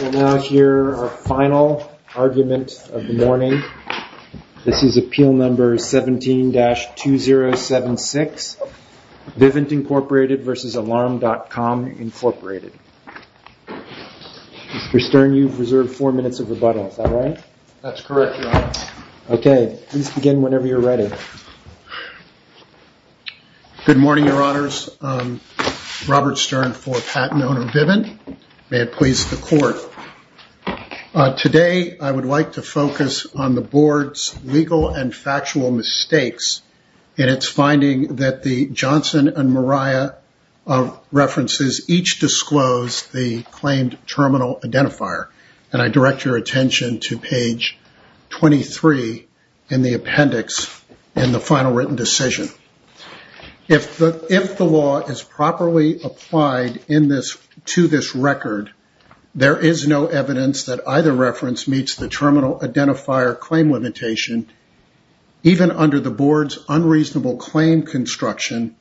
We'll now hear our final argument of the morning. This is Appeal No. 17-2076, Vivint, Inc. v. Alarm.com, Inc. Mr. Stern, you've reserved four minutes of rebuttal. Is that right? That's correct, Your Honor. Good morning, Your Honors. Robert Stern for Patent Owner Vivint. May it please the Court. Today, I would like to focus on the Board's legal and factual mistakes in its finding that the Johnson and Moriah references each disclose the claimed terminal identifier. I direct your attention to page 23 in the appendix in the final written decision. If the law is properly applied to this record, there is no evidence that either reference meets the terminal identifier claim limitation, even under the Board's unreasonable claim construction,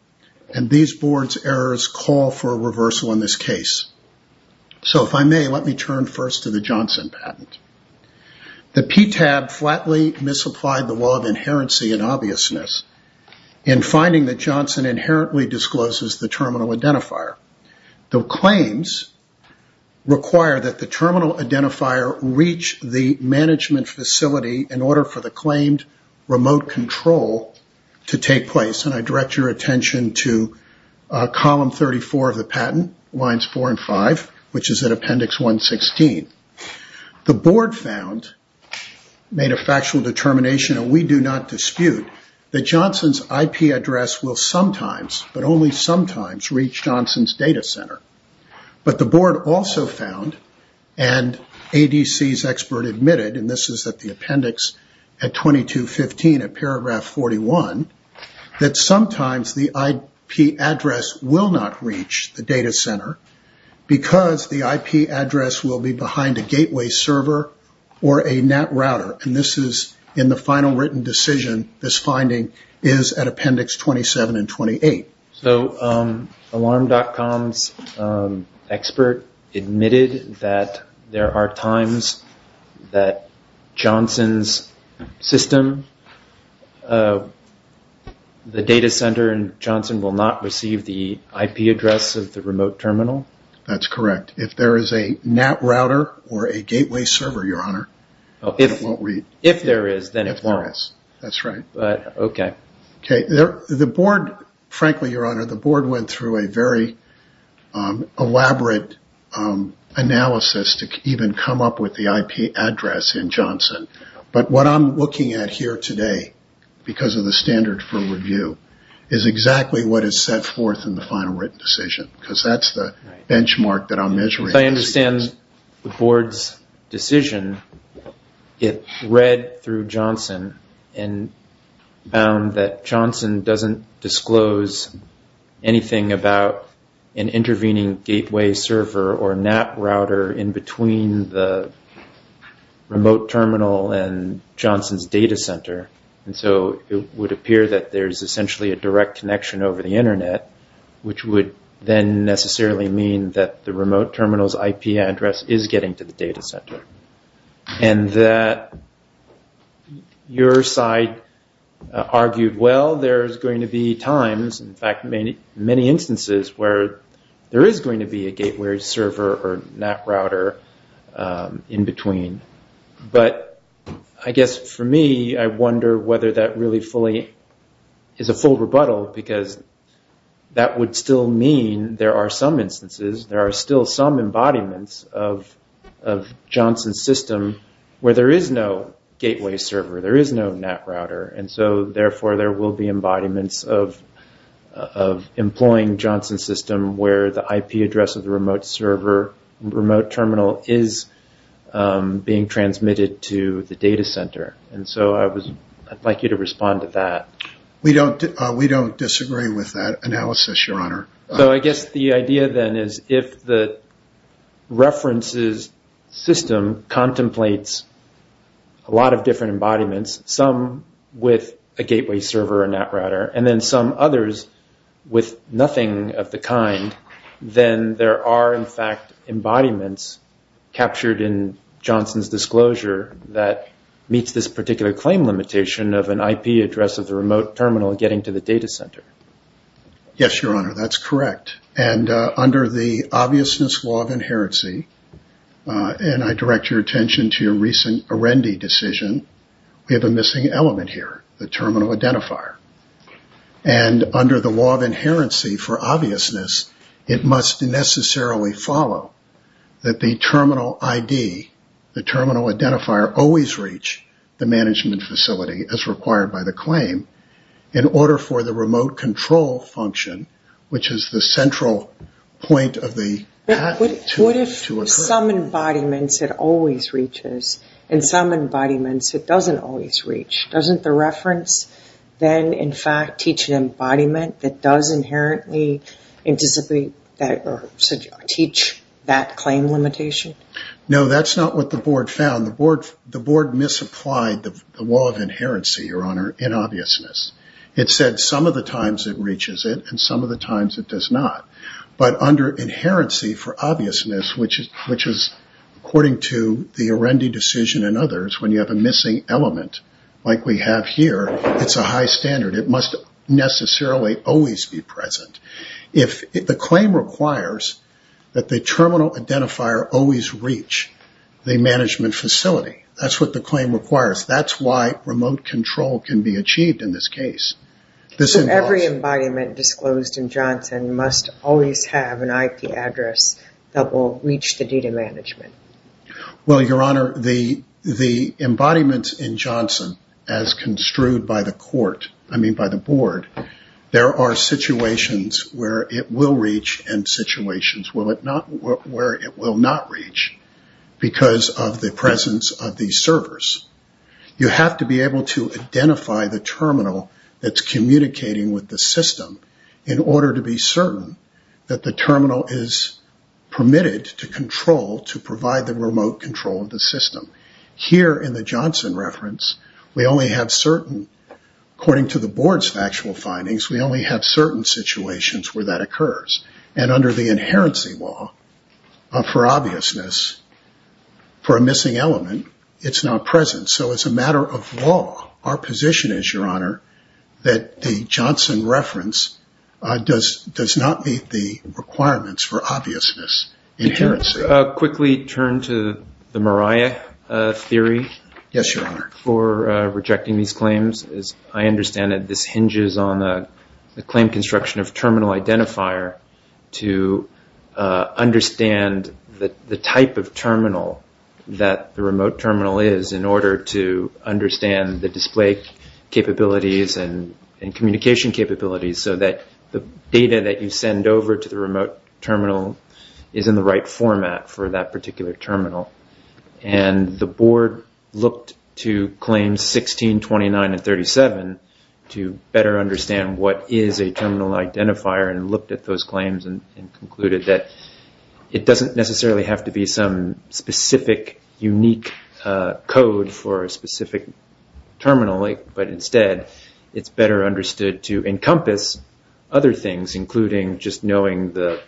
and these Board's errors call for a reversal in this case. If I may, let me turn first to the Johnson patent. The PTAB flatly misapplied the law of inherency and obviousness in finding that Johnson inherently discloses the terminal identifier. The claims require that the terminal identifier reach the management facility in order for the claimed remote control to take place. I direct your attention to column 34 of the patent, lines 4 and 5, which is in appendix 116. The Board found, made a factual determination, and we do not dispute, that Johnson's IP address will sometimes, but only sometimes, reach Johnson's data center. The Board also found, and ADC's expert admitted, and this is at the appendix at 2215 at paragraph 41, that sometimes the IP address will not reach the data center because the IP address will be behind a gateway server or a NAT router. This is in the final written decision, this finding is at appendix 27 and 28. Alarm.com's expert admitted that there are times that Johnson's system, the data center in Johnson, will not receive the IP address of the remote terminal? That's correct. If there is a NAT router or a gateway server, Your Honor, it won't read. If there is, then it won't. If there is, that's right. The Board, frankly, Your Honor, the Board went through a very elaborate analysis to even come up with the IP address in Johnson. But what I'm looking at here today, because of the standard for review, is exactly what is set forth in the final written decision, because that's the benchmark that I'm measuring. As I understand the Board's decision, it read through Johnson and found that Johnson doesn't disclose anything about an intervening gateway server or NAT router in between the remote terminal and Johnson's data center. And so it would appear that there's essentially a direct connection over the Internet, which would then necessarily mean that the remote terminal's IP address is getting to the data center. And that your side argued, well, there's going to be times, in fact many instances, where there is going to be a gateway server or NAT router in between. But I guess for me, I wonder whether that really is a full rebuttal, because that would still mean there are some instances, there are still some embodiments of Johnson's system where there is no gateway server, there is no NAT router. And so therefore there will be embodiments of employing Johnson's system where the IP address of the remote server, remote terminal is being transmitted to the data center. And so I'd like you to respond to that. We don't disagree with that analysis, Your Honor. So I guess the idea then is if the references system contemplates a lot of different embodiments, some with a gateway server or NAT router, and then some others with nothing of the kind, then there are, in fact, embodiments captured in Johnson's disclosure that meets this particular claim limitation of an IP address of the remote terminal getting to the data center. Yes, Your Honor, that's correct. And under the obviousness law of inherency, and I direct your attention to your recent Arendi decision, we have a missing element here, the terminal identifier. And under the law of inherency for obviousness, it must necessarily follow that the terminal ID, the terminal identifier, always reach the management facility as required by the claim in order for the remote control function, which is the central point of the NAT, to occur. In some embodiments, it always reaches. In some embodiments, it doesn't always reach. Doesn't the reference then, in fact, teach an embodiment that does inherently teach that claim limitation? No, that's not what the board found. The board misapplied the law of inherency, Your Honor, in obviousness. It said some of the times it reaches it and some of the times it does not. But under inherency for obviousness, which is according to the Arendi decision and others, when you have a missing element like we have here, it's a high standard. It must necessarily always be present. If the claim requires that the terminal identifier always reach the management facility, that's what the claim requires. That's why remote control can be achieved in this case. Every embodiment disclosed in Johnson must always have an IP address that will reach the data management. Well, Your Honor, the embodiments in Johnson, as construed by the court, I mean by the board, there are situations where it will reach and situations where it will not reach because of the presence of these servers. You have to be able to identify the terminal that's communicating with the system in order to be certain that the terminal is permitted to control, to provide the remote control of the system. Here in the Johnson reference, we only have certain, according to the board's factual findings, we only have certain situations where that occurs. And under the inherency law, for obviousness, for a missing element, it's not present. So it's a matter of law, our position is, Your Honor, that the Johnson reference does not meet the requirements for obviousness, inherency. Could you quickly turn to the Mariah theory for rejecting these claims? As I understand it, this hinges on the claim construction of terminal identifier to understand the type of terminal that the remote terminal is in order to understand the display capabilities and communication capabilities so that the data that you send over to the remote terminal is in the right format for that particular terminal. And the board looked to claims 16, 29, and 37 to better understand what is a terminal identifier and looked at those claims and concluded that it doesn't necessarily have to be some specific, unique code for a specific terminal. But instead, it's better understood to encompass other things, including just knowing the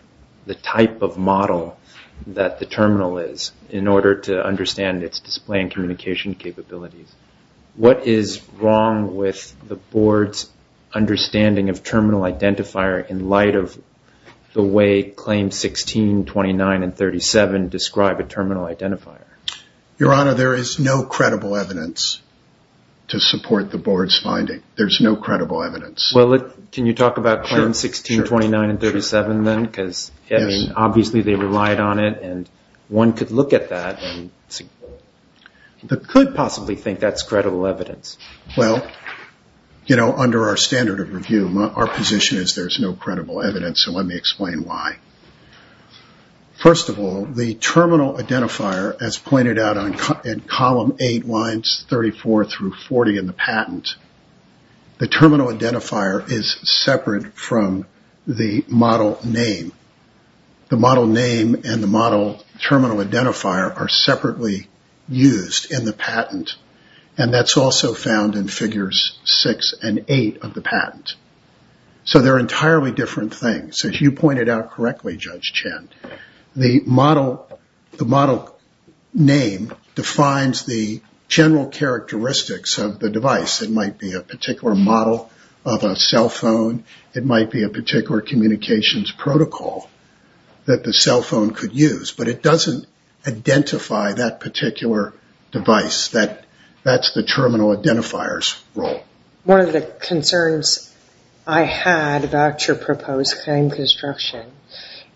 type of model that the terminal is in order to understand its display and communication capabilities. What is wrong with the board's understanding of terminal identifier in light of the way claims 16, 29, and 37 describe a terminal identifier? Your Honor, there is no credible evidence to support the board's finding. There's no credible evidence. Well, can you talk about claims 16, 29, and 37 then? Because obviously they relied on it, and one could look at that. One could possibly think that's credible evidence. Well, under our standard of review, our position is there's no credible evidence, so let me explain why. First of all, the terminal identifier, as pointed out in column 8, lines 34 through 40 in the patent, the terminal identifier is separate from the model name. The model name and the model terminal identifier are separately used in the patent, and that's also found in figures 6 and 8 of the patent. So they're entirely different things. As you pointed out correctly, Judge Chen, the model name defines the general characteristics of the device. It might be a particular model of a cell phone. It might be a particular communications protocol that the cell phone could use, but it doesn't identify that particular device. That's the terminal identifier's role. One of the concerns I had about your proposed claim construction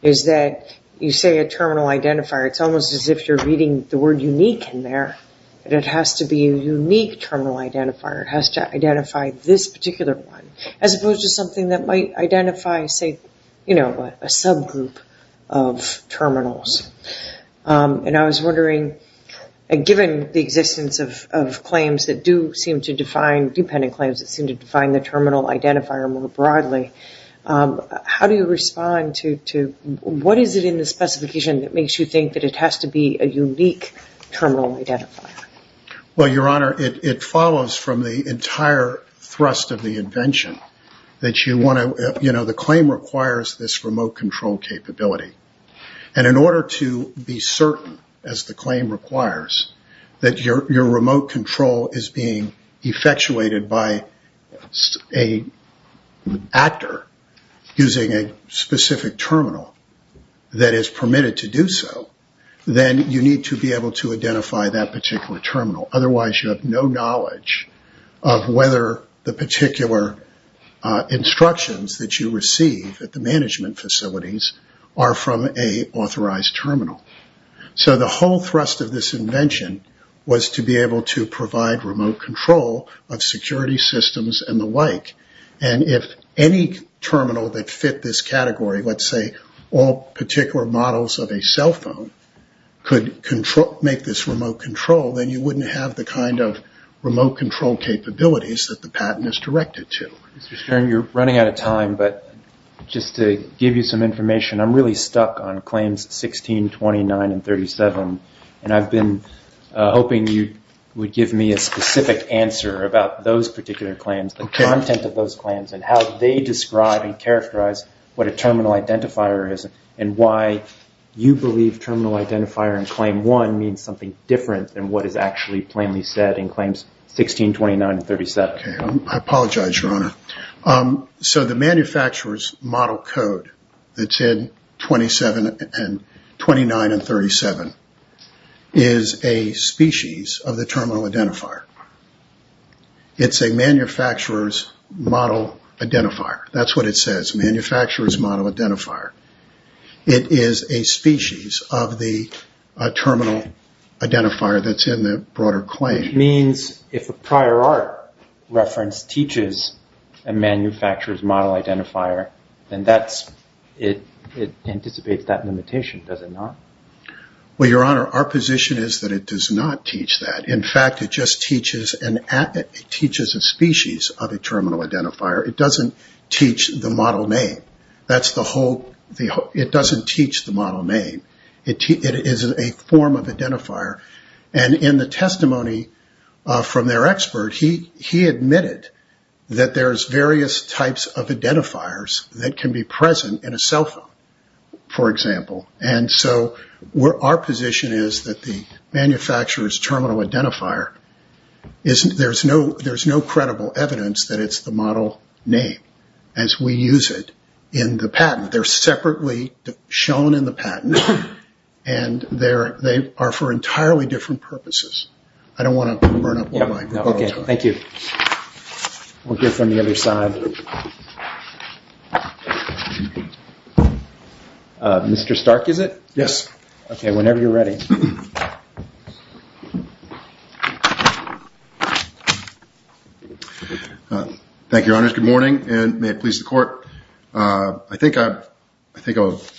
is that you say a terminal identifier. It's almost as if you're reading the word unique in there. It has to be a unique terminal identifier. It has to identify this particular one as opposed to something that might identify, say, you know what, a subgroup of terminals. And I was wondering, given the existence of claims that do seem to define, dependent claims that seem to define the terminal identifier more broadly, how do you respond to what is it in the specification that makes you think that it has to be a unique terminal identifier? Well, Your Honor, it follows from the entire thrust of the invention that you want to, you know, the claim requires this remote control capability. And in order to be certain, as the claim requires, that your remote control is being effectuated by an actor using a specific terminal that is permitted to do so, then you need to be able to identify that particular terminal. Otherwise, you have no knowledge of whether the particular instructions that you receive at the management facilities are from an authorized terminal. So the whole thrust of this invention was to be able to provide remote control of security systems and the like. And if any terminal that fit this category, let's say all particular models of a cell phone, could make this remote control, then you wouldn't have the kind of remote control capabilities that the patent is directed to. Mr. Stern, you're running out of time, but just to give you some information, I'm really stuck on claims 16, 29, and 37. And I've been hoping you would give me a specific answer about those particular claims. The content of those claims and how they describe and characterize what a terminal identifier is and why you believe terminal identifier in Claim 1 means something different than what is actually plainly said in Claims 16, 29, and 37. I apologize, Your Honor. So the manufacturer's model code that's in 27 and 29 and 37 is a species of the terminal identifier. It's a manufacturer's model identifier. That's what it says, manufacturer's model identifier. It is a species of the terminal identifier that's in the broader claim. Which means if a prior art reference teaches a manufacturer's model identifier, then it anticipates that limitation, does it not? Well, Your Honor, our position is that it does not teach that. In fact, it just teaches a species of a terminal identifier. It doesn't teach the model name. It doesn't teach the model name. It is a form of identifier. And in the testimony from their expert, he admitted that there's various types of identifiers that can be present in a cell phone, for example. And so our position is that the manufacturer's terminal identifier, there's no credible evidence that it's the model name as we use it in the patent. They're separately shown in the patent. And they are for entirely different purposes. I don't want to burn up more time. Thank you. We'll hear from the other side. Mr. Stark, is it? Yes. Okay, whenever you're ready. Thank you, Your Honor. Good morning, and may it please the Court. I think I'll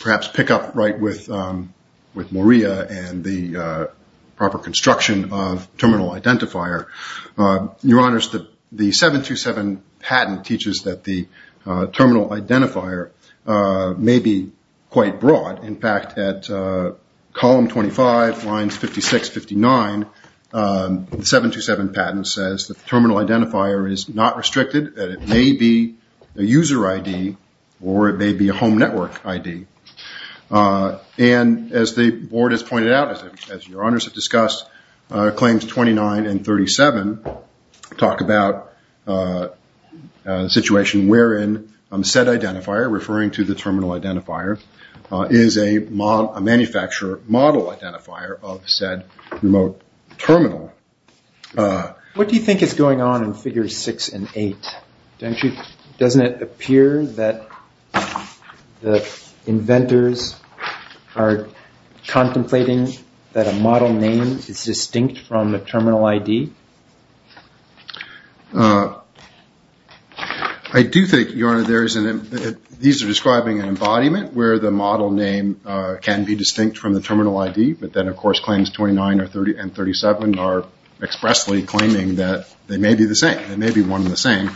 perhaps pick up right with Maria and the proper construction of terminal identifier. Your Honors, the 727 patent teaches that the terminal identifier may be quite broad. In fact, at column 25, lines 56, 59, the 727 patent says that the terminal identifier is not restricted, that it may be a user ID or it may be a home network ID. And as the Board has pointed out, as Your Honors have discussed, Claims 29 and 37 talk about a situation wherein said identifier, referring to the terminal identifier, is a manufacturer model identifier of said remote terminal. What do you think is going on in Figures 6 and 8? Doesn't it appear that the inventors are contemplating that a model name is distinct from a terminal ID? I do think, Your Honor, these are describing an embodiment where the model name can be distinct from the terminal ID, but then, of course, Claims 29 and 37 are expressly claiming that they may be the same. They may be one and the same.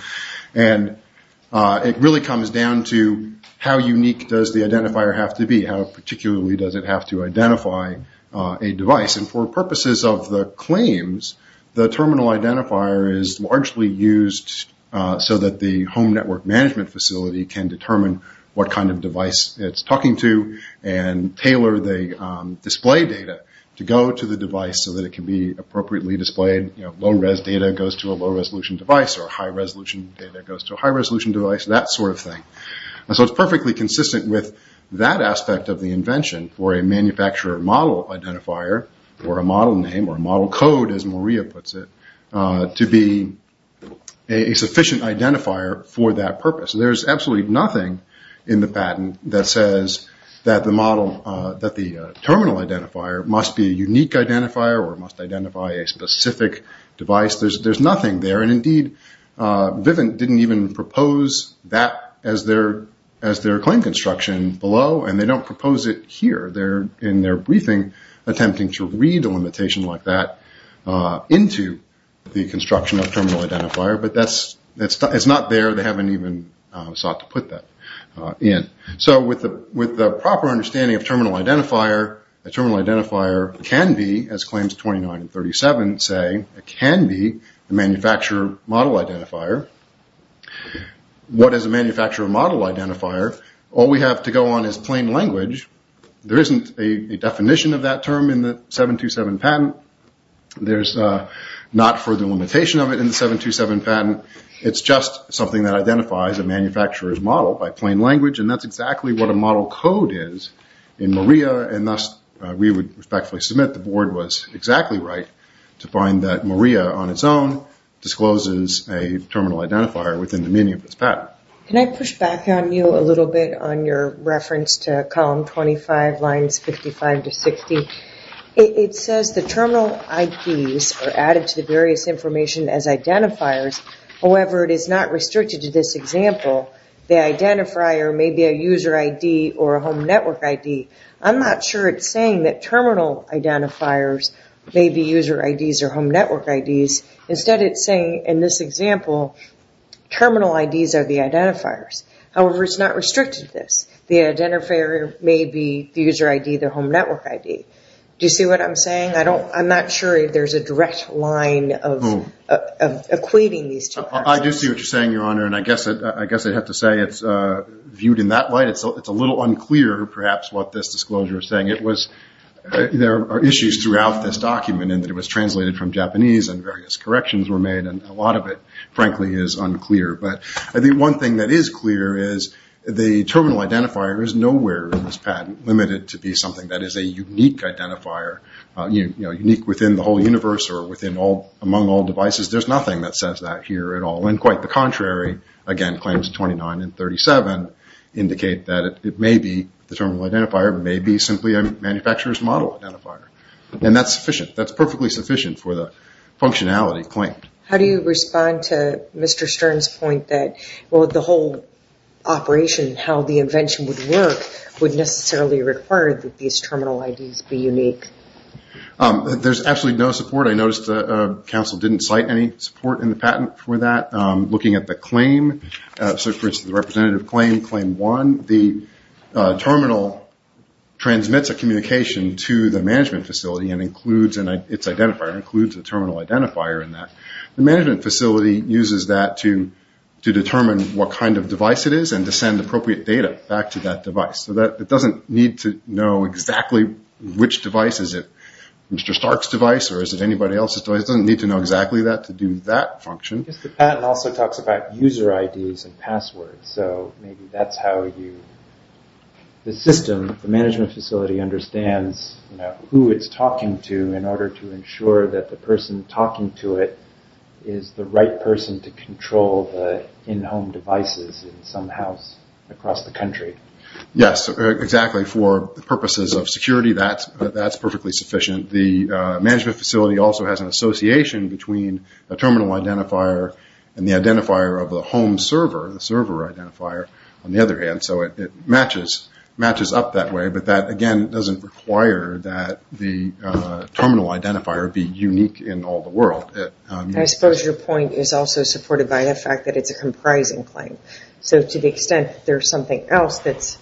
It really comes down to how unique does the identifier have to be, how particularly does it have to identify a device. For purposes of the claims, the terminal identifier is largely used so that the home network management facility can determine what kind of device it's talking to and tailor the display data to go to the device so that it can be appropriately displayed. Low-res data goes to a low-resolution device, or high-resolution data goes to a high-resolution device, that sort of thing. So it's perfectly consistent with that aspect of the invention for a manufacturer model identifier, or a model name, or a model code, as Maria puts it, to be a sufficient identifier for that purpose. There's absolutely nothing in the patent that says that the terminal identifier must be a unique identifier or must identify a specific device. There's nothing there. Indeed, Vivint didn't even propose that as their claim construction below, and they don't propose it here. They're, in their briefing, attempting to read a limitation like that into the construction of a terminal identifier, but it's not there. They haven't even sought to put that in. So with the proper understanding of terminal identifier, a terminal identifier can be, as claims 29 and 37 say, a manufacturer model identifier. What is a manufacturer model identifier? All we have to go on is plain language. There isn't a definition of that term in the 727 patent. There's not further limitation of it in the 727 patent. It's just something that identifies a manufacturer's model by plain language, and that's exactly what a model code is in Maria, and thus we would respectfully submit the board was exactly right to find that Maria, on its own, discloses a terminal identifier within the meaning of its patent. Can I push back on you a little bit on your reference to column 25, lines 55 to 60? It says the terminal IDs are added to the various information as identifiers. However, it is not restricted to this example. The identifier may be a user ID or a home network ID. I'm not sure it's saying that terminal identifiers may be user IDs or home network IDs. Instead, it's saying, in this example, terminal IDs are the identifiers. However, it's not restricted to this. The identifier may be the user ID, the home network ID. Do you see what I'm saying? I'm not sure if there's a direct line of equating these two. I do see what you're saying, Your Honor, and I guess I'd have to say it's viewed in that light. It's a little unclear, perhaps, what this disclosure is saying. There are issues throughout this document in that it was translated from Japanese and various corrections were made, and a lot of it, frankly, is unclear. But I think one thing that is clear is the terminal identifier is nowhere in this patent limited to be something that is a unique identifier, unique within the whole universe or among all devices. There's nothing that says that here at all. And quite the contrary. Again, claims 29 and 37 indicate that it may be, the terminal identifier may be, simply a manufacturer's model identifier. And that's sufficient. That's perfectly sufficient for the functionality claimed. How do you respond to Mr. Stern's point that the whole operation, how the invention would work would necessarily require that these terminal IDs be unique? There's absolutely no support. I noticed the counsel didn't cite any support in the patent for that. Looking at the claim, for instance, the representative claim, claim one, the terminal transmits a communication to the management facility and includes its identifier, includes a terminal identifier in that. The management facility uses that to determine what kind of device it is and to send appropriate data back to that device. So it doesn't need to know exactly which device. Is it Mr. Stark's device or is it anybody else's device? It doesn't need to know exactly that to do that function. The patent also talks about user IDs and passwords, so maybe that's how you, the system, the management facility understands who it's talking to in order to ensure that the person talking to it is the right person to control the in-home devices in some house across the country. Yes, exactly. For purposes of security, that's perfectly sufficient. The management facility also has an association between a terminal identifier and the identifier of the home server, the server identifier, on the other hand. So it matches up that way, but that, again, doesn't require that the terminal identifier be unique in all the world. I suppose your point is also supported by the fact that it's a comprising claim. So to the extent there's something else that's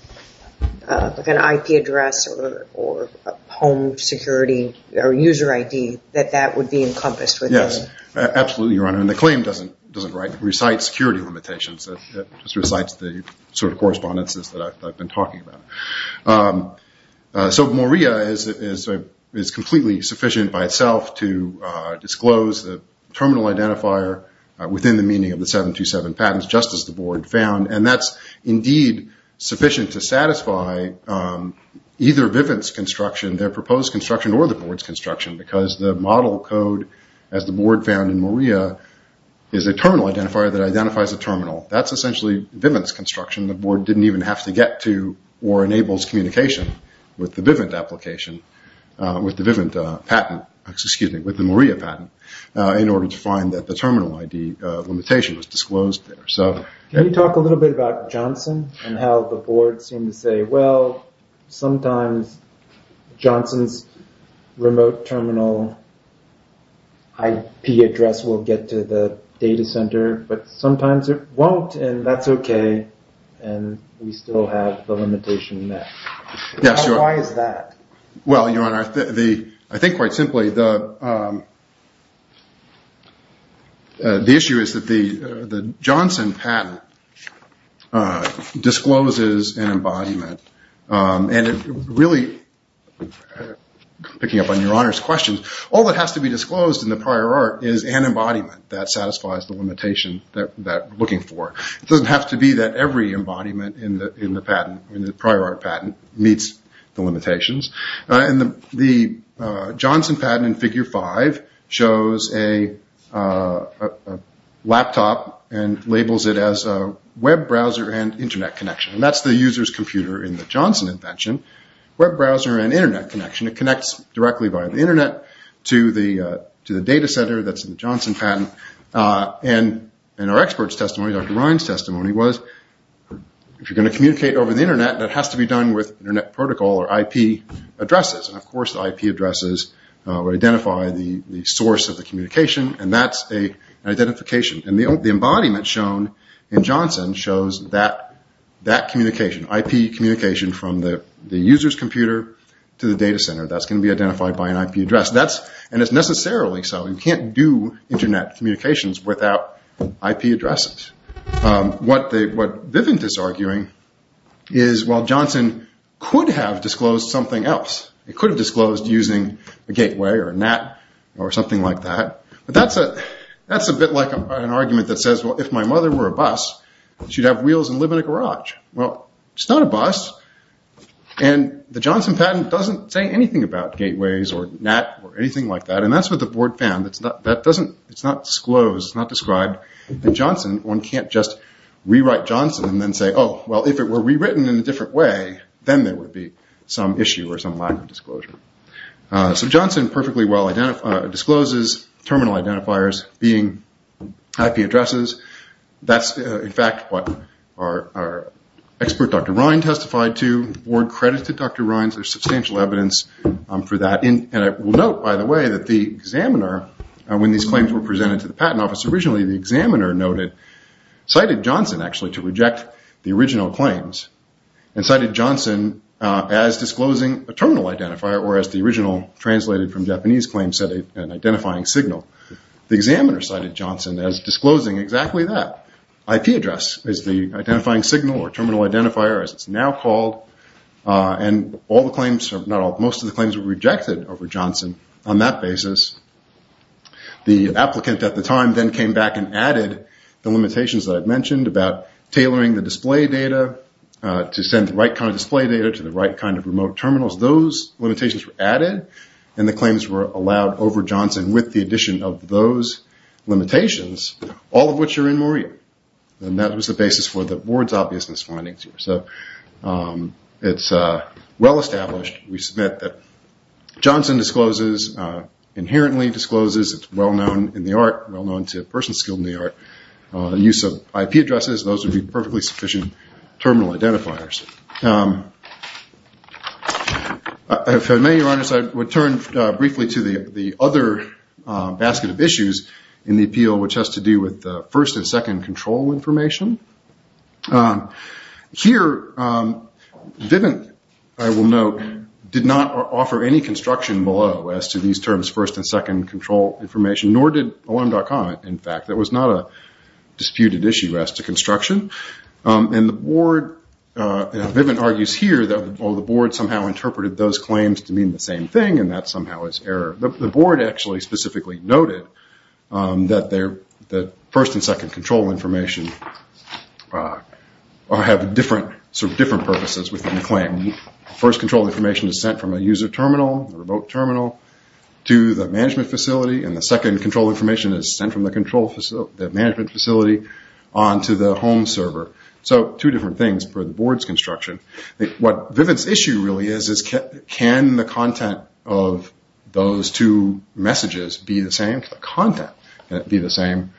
like an IP address or a home security or user ID, that that would be encompassed within. Yes, absolutely, Your Honor. And the claim doesn't recite security limitations. It just recites the sort of correspondences that I've been talking about. So Moria is completely sufficient by itself to disclose the terminal identifier within the meaning of the 727 patents, just as the Board found, and that's indeed sufficient to satisfy either Vivint's construction, their proposed construction, or the Board's construction, is a terminal identifier that identifies a terminal. That's essentially Vivint's construction. The Board didn't even have to get to or enables communication with the Vivint patent, with the Moria patent, in order to find that the terminal ID limitation was disclosed there. Can you talk a little bit about Johnson and how the Board seemed to say, well, sometimes Johnson's remote terminal IP address will get to the data center, but sometimes it won't, and that's okay, and we still have the limitation there. Why is that? Well, Your Honor, I think quite simply the issue is that the Johnson patent discloses an embodiment, and really, picking up on Your Honor's question, all that has to be disclosed in the prior art is an embodiment that satisfies the limitation that we're looking for. It doesn't have to be that every embodiment in the prior art patent meets the limitations. The Johnson patent in figure five shows a laptop and labels it as a web browser and Internet connection. That's the user's computer in the Johnson invention, web browser and Internet connection. It connects directly via the Internet to the data center that's in the Johnson patent. Our expert's testimony, Dr. Ryan's testimony, was if you're going to communicate over the Internet, that has to be done with Internet protocol or IP addresses. Of course, IP addresses identify the source of the communication, and that's an identification. The embodiment shown in Johnson shows that communication, IP communication from the user's computer to the data center. That's going to be identified by an IP address, and it's necessarily so. You can't do Internet communications without IP addresses. What Vivint is arguing is Johnson could have disclosed something else. It could have disclosed using a gateway or a NAT or something like that. That's a bit like an argument that says, if my mother were a bus, she'd have wheels and live in a garage. It's not a bus, and the Johnson patent doesn't say anything about gateways or NAT or anything like that. That's what the board found. It's not disclosed, it's not described in Johnson. One can't just rewrite Johnson and then say, if it were rewritten in a different way, then there would be some issue or some lack of disclosure. Johnson perfectly well discloses terminal identifiers being IP addresses. That's, in fact, what our expert, Dr. Ryan, testified to. The board credited Dr. Ryan for substantial evidence for that. I will note, by the way, that the examiner, when these claims were presented to the patent office originally, the examiner cited Johnson, actually, to reject the original claims, and cited Johnson as disclosing a terminal identifier, or as the original translated from Japanese claims said, an identifying signal. The examiner cited Johnson as disclosing exactly that. IP address is the identifying signal or terminal identifier, as it's now called. Most of the claims were rejected over Johnson on that basis. The applicant, at the time, then came back and added the limitations that I mentioned about tailoring the display data to send the right kind of display data to the right kind of remote terminals. Those limitations were added, and the claims were allowed over Johnson with the addition of those limitations, all of which are in Maria. That was the basis for the board's obviousness findings. It's well-established, we submit, that Johnson inherently discloses, it's well-known in the art, well-known to persons skilled in the art, the use of IP addresses, those would be perfectly sufficient terminal identifiers. If I may, Your Honors, I would turn briefly to the other basket of issues in the appeal, which has to do with the first and second control information. Here, Vivint, I will note, did not offer any construction below as to these terms, first and second control information, nor did OM.com, in fact. That was not a disputed issue as to construction. Vivint argues here that the board somehow interpreted those claims to mean the same thing, and that somehow is error. The board actually specifically noted that the first and second control information have different purposes within the claim. First control information is sent from a user terminal, a remote terminal, to the management facility, and the second control information is sent from the management facility on to the home server. So two different things for the board's construction. What Vivint's issue really is, is can the content of those two messages be the same? Can the content be the same,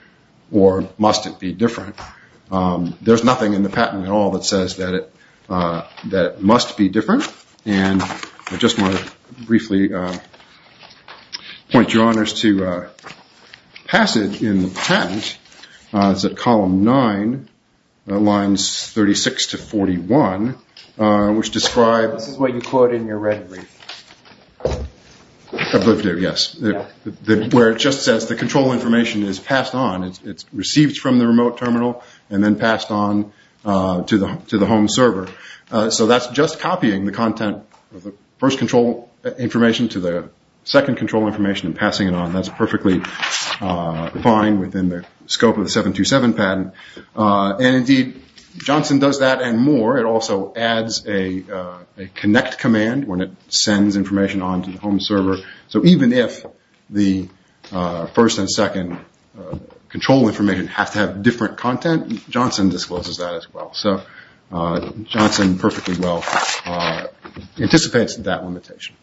or must it be different? There's nothing in the patent at all that says that it must be different, and I just want to briefly point Your Honors to a passage in the patent. It's at column 9, lines 36 to 41, which describes... This is what you quote in your red brief. Yes, where it just says the control information is passed on. It's received from the remote terminal and then passed on to the home server. So that's just copying the content of the first control information to the second control information and passing it on. That's perfectly fine within the scope of the 727 patent. Indeed, Johnson does that and more. It also adds a connect command when it sends information on to the home server. So even if the first and second control information have to have different content, Johnson discloses that as well. So Johnson perfectly well anticipates that limitation.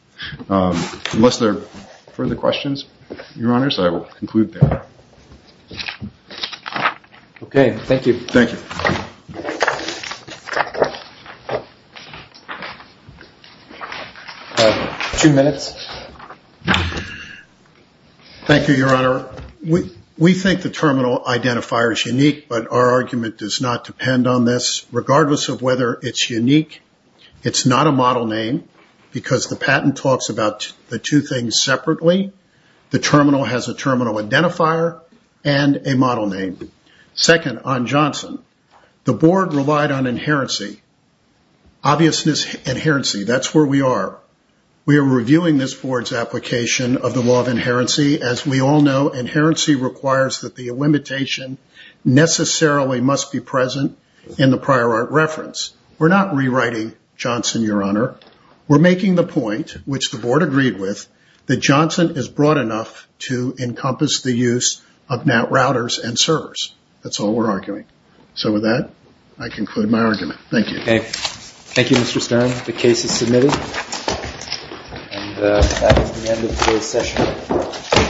Unless there are further questions, Your Honors, I will conclude there. Okay, thank you. Thank you. Two minutes. Thank you, Your Honor. We think the terminal identifier is unique, but our argument does not depend on this. Regardless of whether it's unique, it's not a model name because the patent talks about the two things separately. The terminal has a terminal identifier and a model name. Second, on Johnson, the board relied on inherency. Obviousness, inherency, that's where we are. We are reviewing this board's application of the law of inherency. As we all know, inherency requires that the limitation necessarily must be present in the prior art reference. We're not rewriting Johnson, Your Honor. We're making the point, which the board agreed with, that Johnson is broad enough to encompass the use of NAT routers and servers. That's all we're arguing. So with that, I conclude my argument. Thank you. Okay. Thank you, Mr. Stern. The case is submitted. And that is the end of today's session.